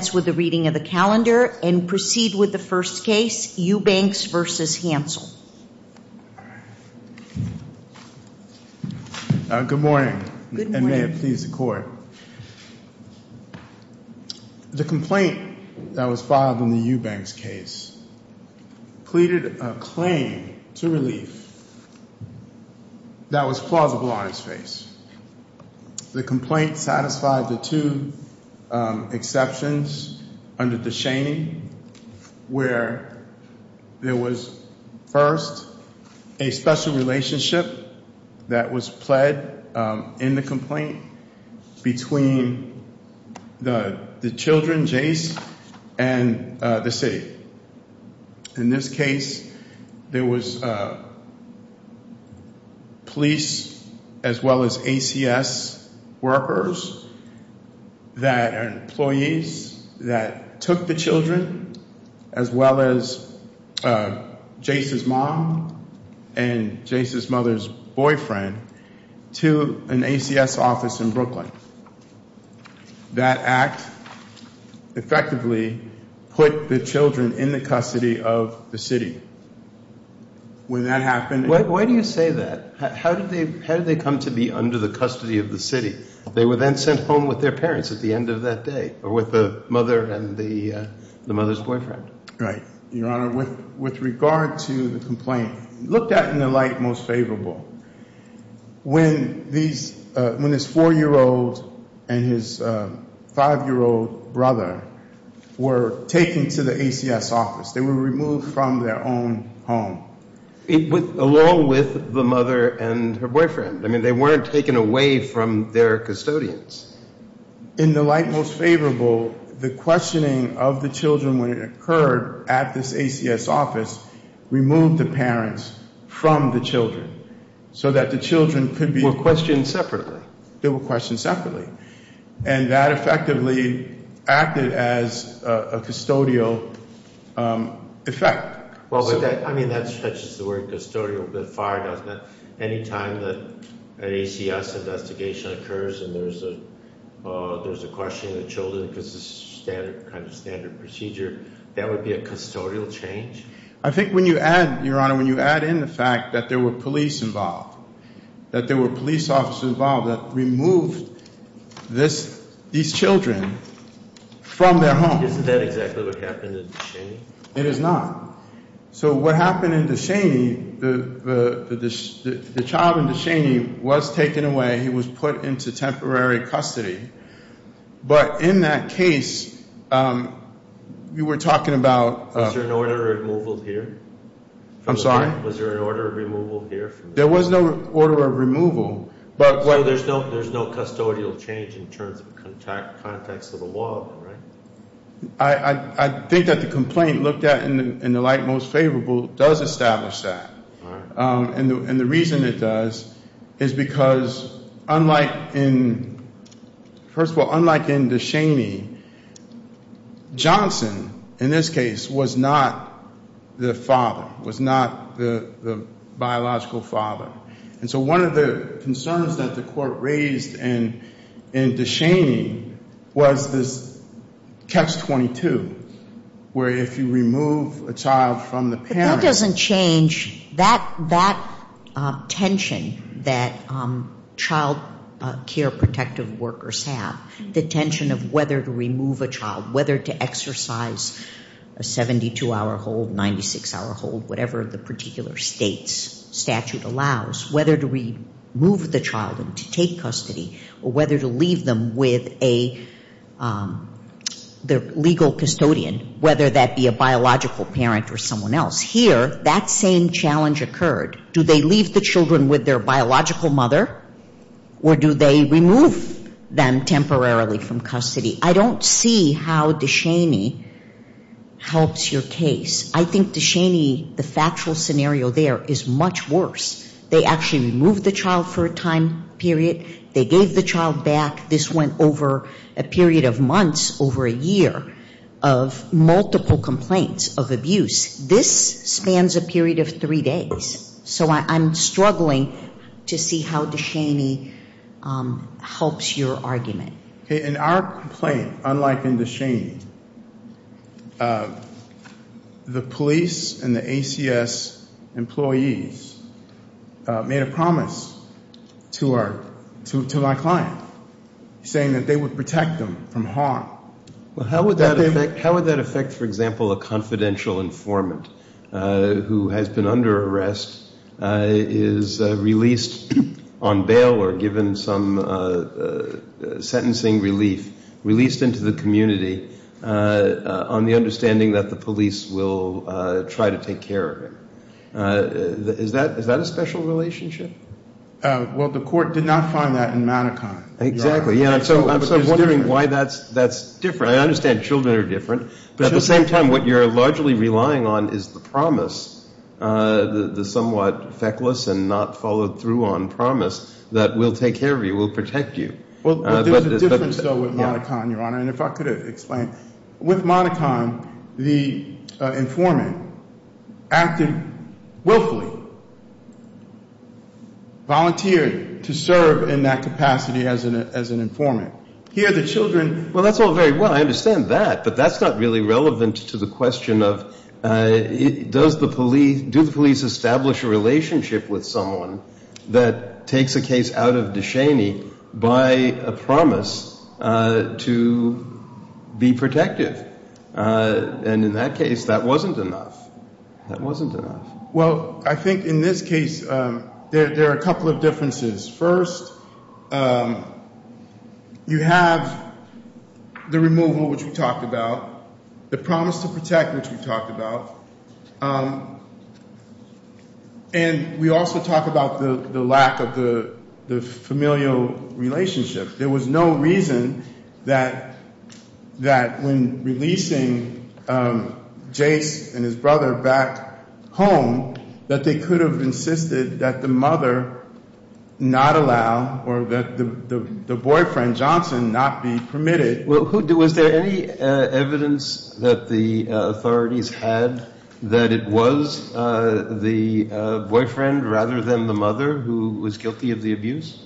Good morning and may it please the court. The complaint that was filed in the Eubanks case pleaded a claim to relief that was plausible on its face. The complaint satisfied the two exceptions under the shaming where there was first a special relationship that was pled in the complaint between the children, Jace, and the city. In this case, there was police as well as ACS workers that are employees that took the children as well as Jace's mom and Jace's mother's boyfriend to an ACS office in Brooklyn. That act effectively put the children in the custody of the city. When that happened... Why do you say that? How did they come to be under the custody of the city? They were then sent home with their parents at the end of that day or with the mother and the mother's boyfriend. Right, Your Honor. With regard to the complaint, looked at in the light most favorable, when this four-year-old and his five-year-old brother were taken to the ACS office, they were removed from their own home. Along with the mother and her boyfriend. I mean, they weren't taken away from their custodians. In the light most favorable, the questioning of the children when it occurred at this ACS office removed the parents from the children so that the children could be... They were questioned separately. They were questioned separately. And that effectively acted as a custodial effect. Well, I mean, that stretches the word custodial a bit far, doesn't it? Any time that an ACS investigation occurs and there's a questioning of the children because it's a standard procedure, that would be a custodial change? I think when you add, Your Honor, when you add in the fact that there were police involved, that there were police officers involved that removed these children from their home... Isn't that exactly what happened? It is not. So what happened in Deshaney, the child in Deshaney was taken away. He was put into temporary custody. But in that case, you were talking about... Was there an order of removal here? I'm sorry? Was there an order of removal here? There was no order of removal, but... So there's no custodial change in terms of context of the law, right? I think that the complaint looked at in the light most favorable does establish that. And the reason it does is because unlike in... First of all, unlike in Deshaney, Johnson, in this case, was not the father, was not the biological father. And so one of the concerns that the court raised in Deshaney was this catch-22, where if you remove a child from the parent... But that doesn't change that tension that child care protective workers have, the tension of whether to remove a child, whether to exercise a 72-hour hold, 96-hour hold, whatever the particular state's statute allows, whether to remove the child and to take custody, or whether to leave them with a legal custodian, whether that be a biological parent or someone else. Here, that same challenge occurred. Do they leave the children with their biological mother, or do they remove them temporarily from custody? I don't see how Deshaney helps your case. I think Deshaney, the factual scenario there, is much worse. They actually removed the child for a time period. They gave the child back. This went over a period of months, over a year, of multiple complaints of abuse. This spans a period of three days. So I'm struggling to see how Deshaney helps your argument. In our complaint, unlike in Deshaney, the police and the ACS employees made a promise to our client, saying that they would protect them from harm. Well, how would that affect, for example, a confidential informant who has been under arrest, is released on bail or given some sentencing relief, released into the community, on the understanding that the police will try to take care of him? Is that a special relationship? Well, the court did not find that in Manikin. Exactly. So I'm wondering why that's different. I understand children are different. But at the same time, what you're largely relying on is the promise, the somewhat feckless and not followed-through-on promise that we'll take care of you, we'll protect you. Well, there's a difference, though, with Manikin, Your Honor, and if I could explain. With Manikin, the informant acted willfully, volunteered to serve in that capacity as an informant. Here the children – Well, that's all very well. I understand that. But that's not really relevant to the question of does the police establish a relationship with someone that takes a case out of Descheny by a promise to be protective? And in that case, that wasn't enough. That wasn't enough. Well, I think in this case there are a couple of differences. First, you have the removal, which we talked about, the promise to protect, which we talked about. And we also talk about the lack of the familial relationship. There was no reason that when releasing Jace and his brother back home, that they could have insisted that the mother not allow or that the boyfriend, Johnson, not be permitted. Was there any evidence that the authorities had that it was the boyfriend rather than the mother who was guilty of the abuse?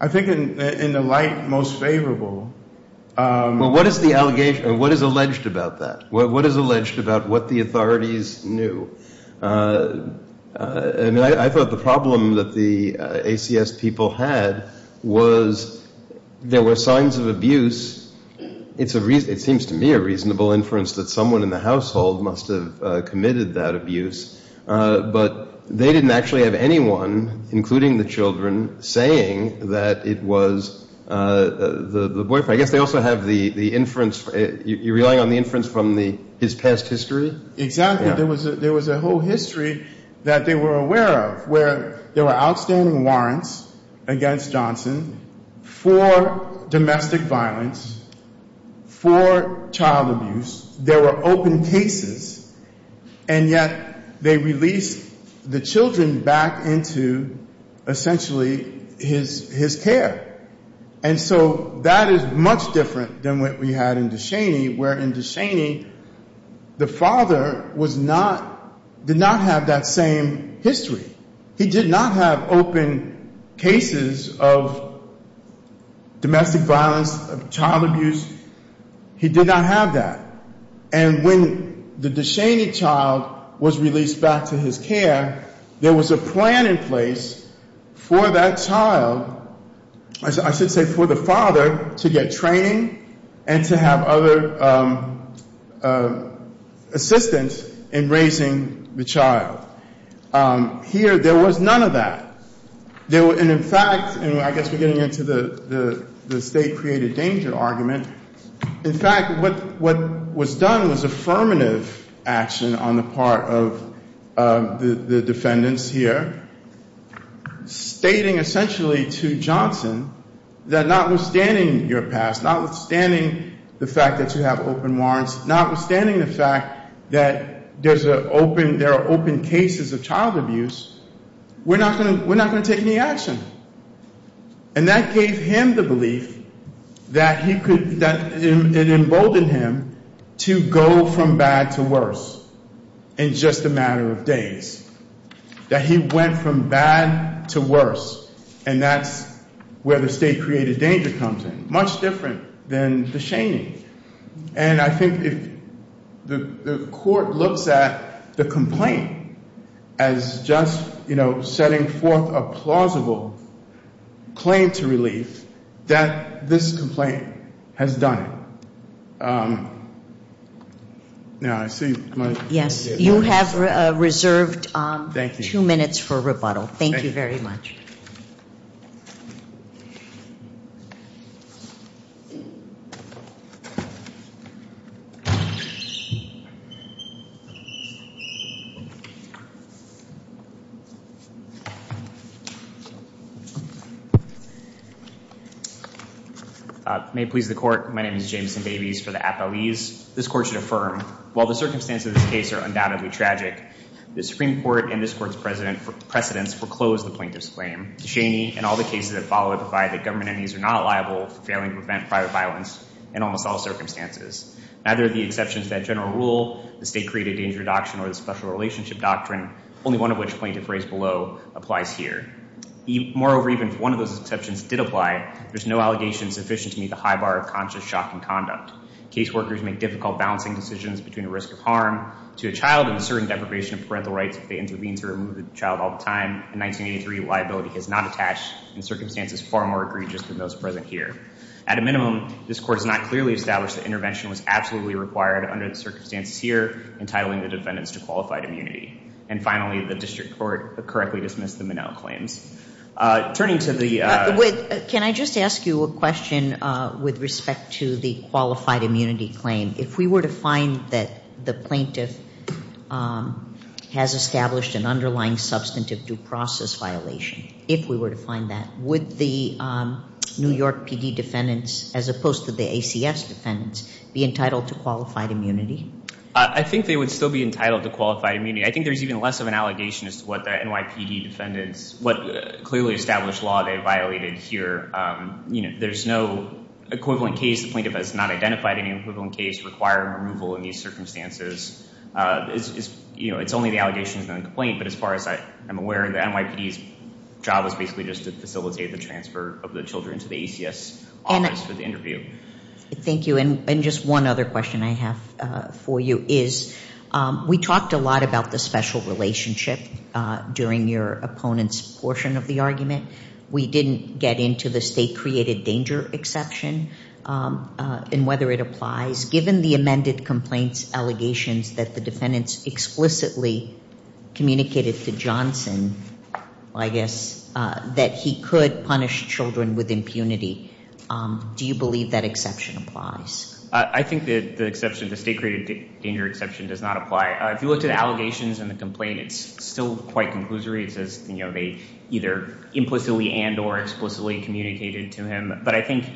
I think in the light most favorable. Well, what is the allegation? What is alleged about that? What is alleged about what the authorities knew? I thought the problem that the ACS people had was there were signs of abuse. It seems to me a reasonable inference that someone in the household must have committed that abuse. But they didn't actually have anyone, including the children, saying that it was the boyfriend. I guess they also have the inference. You're relying on the inference from his past history? Exactly. There was a whole history that they were aware of where there were outstanding warrants against Johnson for domestic violence, for child abuse. There were open cases. And yet they released the children back into essentially his care. And so that is much different than what we had in Deshaney, where in Deshaney the father did not have that same history. He did not have open cases of domestic violence, of child abuse. He did not have that. And when the Deshaney child was released back to his care, there was a plan in place for that child, I should say for the father, to get training and to have other assistance in raising the child. Here there was none of that. And in fact, I guess we're getting into the state created danger argument. In fact, what was done was affirmative action on the part of the defendants here, stating essentially to Johnson that notwithstanding your past, notwithstanding the fact that you have open warrants, notwithstanding the fact that there are open cases of child abuse, we're not going to take any action. And that gave him the belief that he could—it emboldened him to go from bad to worse in just a matter of days, that he went from bad to worse, and that's where the state created danger comes in, much different than Deshaney. And I think if the court looks at the complaint as just setting forth a plausible claim to relief, that this complaint has done it. Yes, you have reserved two minutes for rebuttal. Thank you very much. May it please the court, my name is Jameson Babies for the appellees. This court should affirm, while the circumstances of this case are undoubtedly tragic, the Supreme Court and this court's precedents foreclose the plaintiff's claim. Deshaney and all the cases that follow it provide that government enemies are not liable for failing to prevent private violence in almost all circumstances. Neither the exceptions to that general rule, the state-created danger doctrine, or the special relationship doctrine, only one of which the plaintiff raised below, applies here. Moreover, even if one of those exceptions did apply, there's no allegation sufficient to meet the high bar of conscious shocking conduct. Caseworkers make difficult balancing decisions between the risk of harm to a child and the certain deprivation of parental rights if they intervene to remove the child all the time. In 1983, liability is not attached, and circumstances far more egregious than those present here. At a minimum, this court has not clearly established that intervention was absolutely required under the circumstances here, entitling the defendants to qualified immunity. And finally, the district court correctly dismissed the Minnell claims. Turning to the... Can I just ask you a question with respect to the qualified immunity claim? If we were to find that the plaintiff has established an underlying substantive due process violation, if we were to find that, would the New York PD defendants, as opposed to the ACS defendants, be entitled to qualified immunity? I think they would still be entitled to qualified immunity. I think there's even less of an allegation as to what the NYPD defendants, what clearly established law they violated here. You know, there's no equivalent case. The plaintiff has not identified any equivalent case requiring removal in these circumstances. You know, it's only the allegations and the complaint, but as far as I'm aware, the NYPD's job is basically just to facilitate the transfer of the children to the ACS office for the interview. Thank you. And just one other question I have for you is we talked a lot about the special relationship during your opponent's portion of the argument. We didn't get into the state-created danger exception and whether it applies. Given the amended complaint's allegations that the defendants explicitly communicated to Johnson, I guess, that he could punish children with impunity, do you believe that exception applies? I think the state-created danger exception does not apply. If you look at the allegations and the complaint, it's still quite conclusory. It says they either implicitly and or explicitly communicated to him. But I think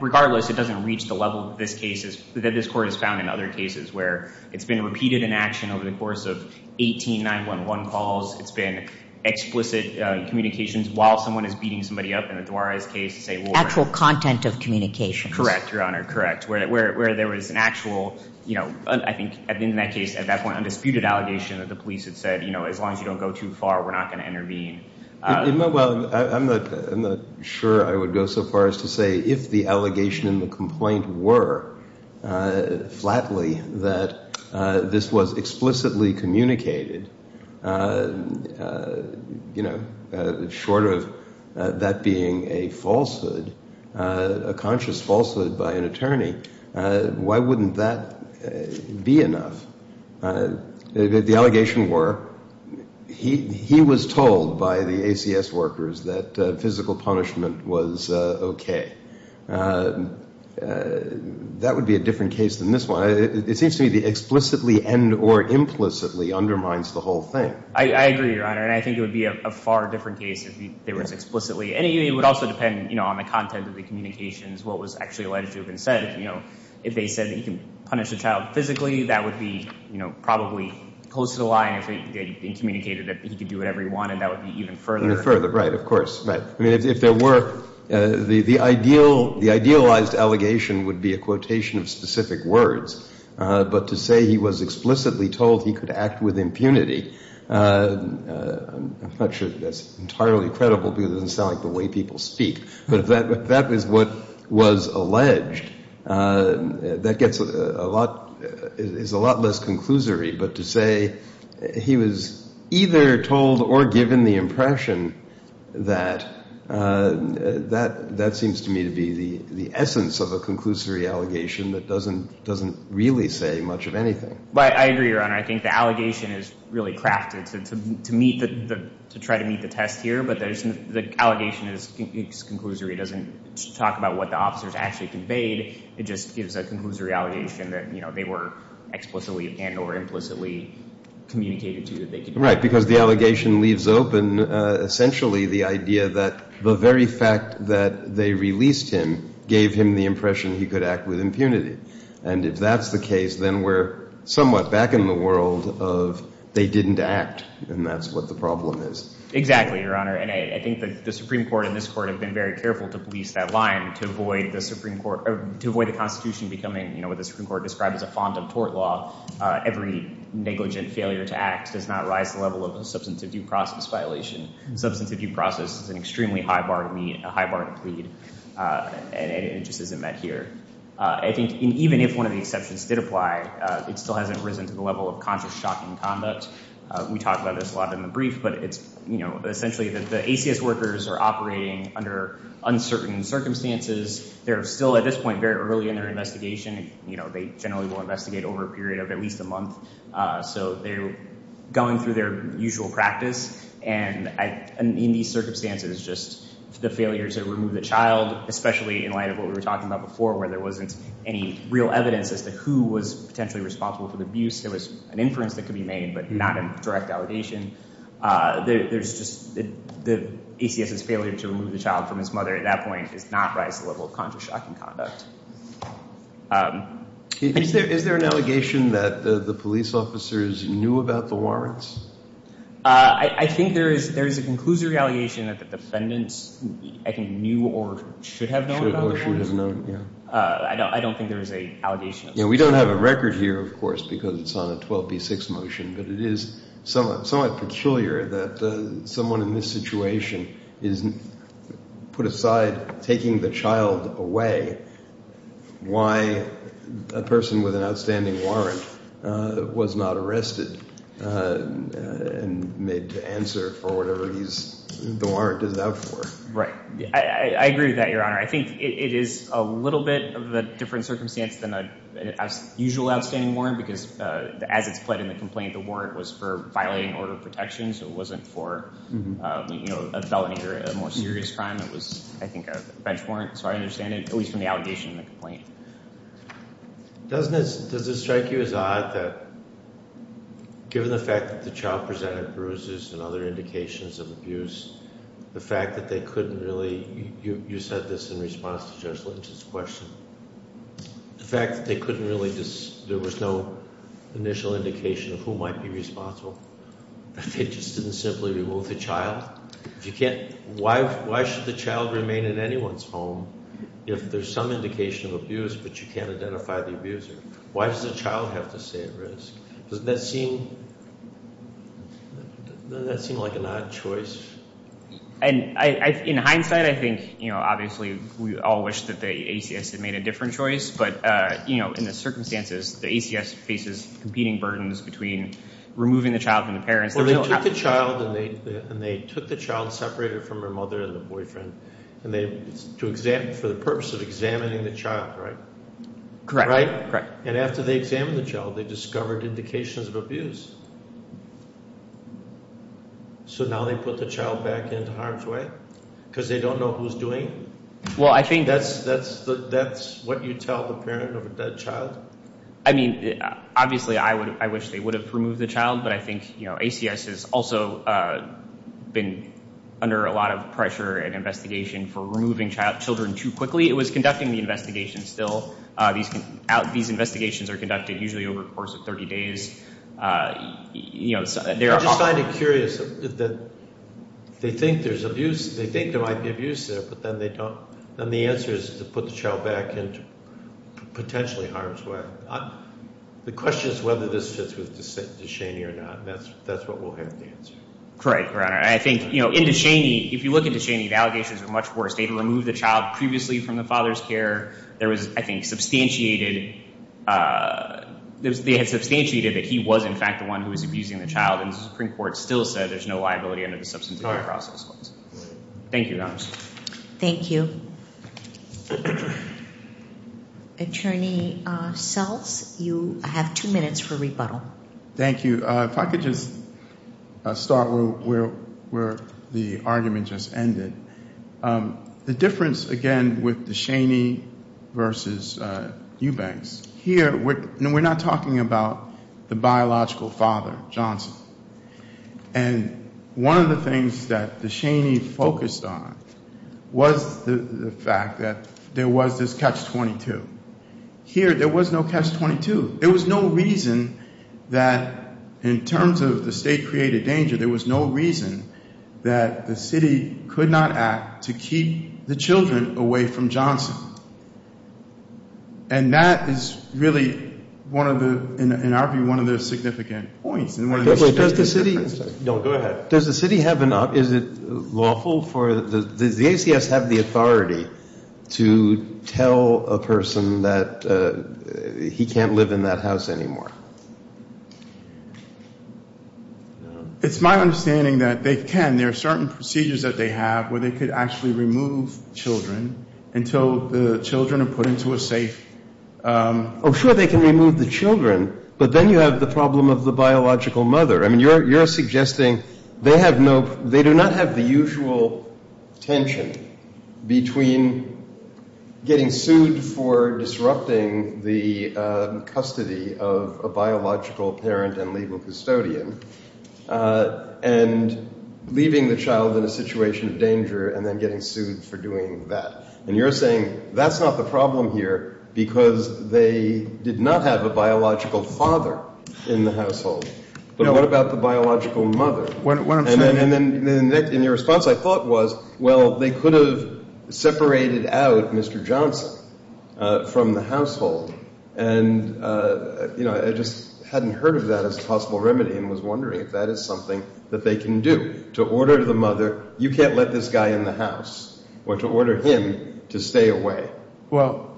regardless, it doesn't reach the level that this court has found in other cases where it's been repeated inaction over the course of 18 911 calls. It's been explicit communications while someone is beating somebody up in the Duarez case. Actual content of communications. Correct, Your Honor, correct, where there was an actual, I think in that case at that point, undisputed allegation that the police had said, you know, as long as you don't go too far, we're not going to intervene. Well, I'm not sure I would go so far as to say if the allegation and the complaint were flatly that this was explicitly communicated, you know, short of that being a falsehood, a conscious falsehood by an attorney, why wouldn't that be enough? The allegation were he was told by the ACS workers that physical punishment was okay. That would be a different case than this one. It seems to me the explicitly and or implicitly undermines the whole thing. I agree, Your Honor, and I think it would be a far different case if it was explicitly. And it would also depend, you know, on the content of the communications, what was actually alleged to have been said. You know, if they said that you can punish a child physically, that would be, you know, probably close to the line if it had been communicated that he could do whatever he wanted. That would be even further. Even further, right, of course, right. I mean, if there were, the idealized allegation would be a quotation of specific words. But to say he was explicitly told he could act with impunity, I'm not sure that's entirely credible because it doesn't sound like the way people speak. But if that was what was alleged, that gets a lot, is a lot less conclusory. But to say he was either told or given the impression that, that seems to me to be the essence of a conclusory allegation that doesn't really say much of anything. I agree, Your Honor. I think the allegation is really crafted to try to meet the test here. But the allegation is conclusory. It doesn't talk about what the officers actually conveyed. It just gives a conclusory allegation that, you know, they were explicitly and or implicitly communicated to that they could do that. Right, because the allegation leaves open essentially the idea that the very fact that they released him gave him the impression he could act with impunity. And if that's the case, then we're somewhat back in the world of they didn't act, and that's what the problem is. Exactly, Your Honor. And I think the Supreme Court and this Court have been very careful to police that line to avoid the Constitution becoming, you know, what the Supreme Court described as a fond of tort law. Every negligent failure to act does not rise the level of a substantive due process violation. Substantive due process is an extremely high bar to meet, a high bar to plead. And it just isn't met here. I think even if one of the exceptions did apply, it still hasn't risen to the level of conscious shocking conduct. We talk about this a lot in the brief, but it's, you know, essentially the ACS workers are operating under uncertain circumstances. They're still at this point very early in their investigation. You know, they generally will investigate over a period of at least a month. So they're going through their usual practice. And in these circumstances, just the failure to remove the child, especially in light of what we were talking about before where there wasn't any real evidence as to who was potentially responsible for the abuse. There was an inference that could be made, but not a direct allegation. There's just the ACS's failure to remove the child from his mother at that point does not rise the level of conscious shocking conduct. Is there an allegation that the police officers knew about the warrants? I think there is a conclusory allegation that the defendants, I think, knew or should have known about the warrants. I don't think there is an allegation. We don't have a record here, of course, because it's on a 12B6 motion, but it is somewhat peculiar that someone in this situation is put aside taking the child away. Why a person with an outstanding warrant was not arrested and made to answer for whatever the warrant is out for. Right. I agree with that, Your Honor. I think it is a little bit of a different circumstance than a usual outstanding warrant because as it's pled in the complaint, the warrant was for violating order of protection, so it wasn't for a felony or a more serious crime. It was, I think, a bench warrant. So I understand it, at least from the allegation in the complaint. Does it strike you as odd that given the fact that the child presented bruises and other indications of abuse, the fact that they couldn't really you said this in response to Judge Lynch's question, the fact that there was no initial indication of who might be responsible, that they just didn't simply remove the child? Why should the child remain in anyone's home if there is some indication of abuse, but you can't identify the abuser? Why does the child have to stay at risk? Doesn't that seem like an odd choice? In hindsight, I think obviously we all wish that the ACS had made a different choice, but in the circumstances, the ACS faces competing burdens between removing the child from the parents. Well, they took the child and they took the child, separated it from her mother and her boyfriend for the purpose of examining the child, right? Correct. And after they examined the child, they discovered indications of abuse. So now they put the child back into harm's way because they don't know who's doing it? Well, I think that's what you tell the parent of a dead child. I mean, obviously I wish they would have removed the child, but I think ACS has also been under a lot of pressure and investigation for removing children too quickly. It was conducting the investigation still. These investigations are conducted usually over the course of 30 days. I just find it curious that they think there might be abuse there, but then the answer is to put the child back into potentially harm's way. The question is whether this fits with DeShaney or not, and that's what we'll have to answer. Correct, Your Honor. I think in DeShaney, if you look at DeShaney, the allegations are much worse. They had removed the child previously from the father's care. There was, I think, substantiated that he was in fact the one who was abusing the child, and the Supreme Court still said there's no liability under the substance abuse process. Thank you, Your Honor. Thank you. Attorney Sells, you have two minutes for rebuttal. Thank you. If I could just start where the argument just ended. The difference, again, with DeShaney versus Eubanks, here we're not talking about the biological father, Johnson. And one of the things that DeShaney focused on was the fact that there was this catch-22. Here there was no catch-22. There was no reason that in terms of the state-created danger, there was no reason that the city could not act to keep the children away from Johnson. And that is really, in our view, one of the significant points. Does the city have enough? Is it lawful? Does the ACS have the authority to tell a person that he can't live in that house anymore? It's my understanding that they can. There are certain procedures that they have where they could actually remove children until the children are put into a safe. Oh, sure, they can remove the children, but then you have the problem of the biological mother. I mean, you're suggesting they do not have the usual tension between getting sued for disrupting the custody of a biological parent and legal custodian and leaving the child in a situation of danger and then getting sued for doing that. And you're saying that's not the problem here because they did not have a biological father in the household. But what about the biological mother? And your response, I thought, was, well, they could have separated out Mr. Johnson from the household. And, you know, I just hadn't heard of that as a possible remedy and was wondering if that is something that they can do to order the mother, you can't let this guy in the house, or to order him to stay away. Well,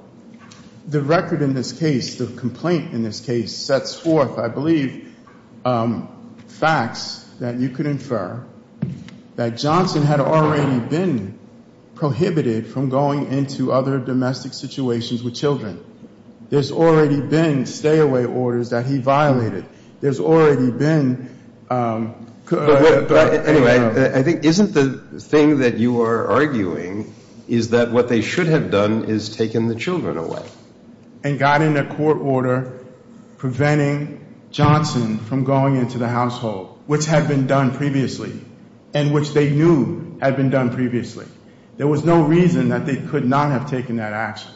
the record in this case, the complaint in this case, sets forth, I believe, facts that you could infer that Johnson had already been prohibited from going into other domestic situations with children. There's already been stay-away orders that he violated. There's already been... Anyway, I think, isn't the thing that you are arguing is that what they should have done is taken the children away? And got in a court order preventing Johnson from going into the household, which had been done previously and which they knew had been done previously. There was no reason that they could not have taken that action.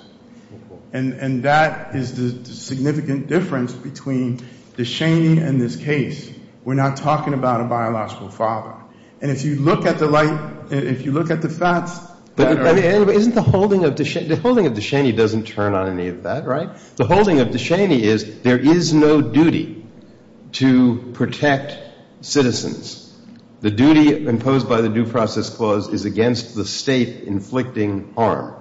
And that is the significant difference between Descheny and this case. We're not talking about a biological father. And if you look at the light, if you look at the facts... Isn't the holding of Descheny, the holding of Descheny doesn't turn on any of that, right? The holding of Descheny is there is no duty to protect citizens. The duty imposed by the Due Process Clause is against the state inflicting harm.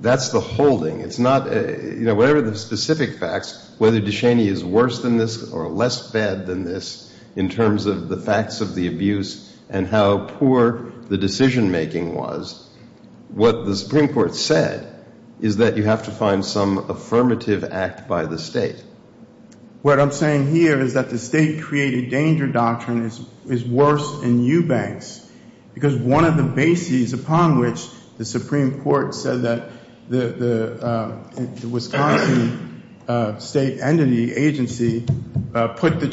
That's the holding. It's not... Whatever the specific facts, whether Descheny is worse than this or less bad than this in terms of the facts of the abuse and how poor the decision-making was, what the Supreme Court said is that you have to find some affirmative act by the state. What I'm saying here is that the state-created danger doctrine is worse in Eubanks because one of the bases upon which the Supreme Court said that the Wisconsin state entity agency put the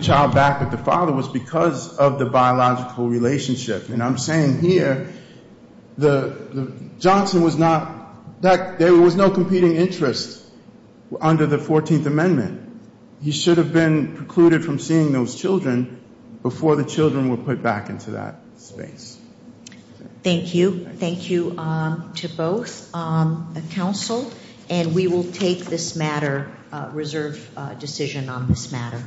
child back with the father was because of the biological relationship. And I'm saying here Johnson was not... There was no competing interest under the 14th Amendment. He should have been precluded from seeing those children before the children were put back into that space. Thank you. Thank you to both counsel. And we will take this matter, reserve decision on this matter.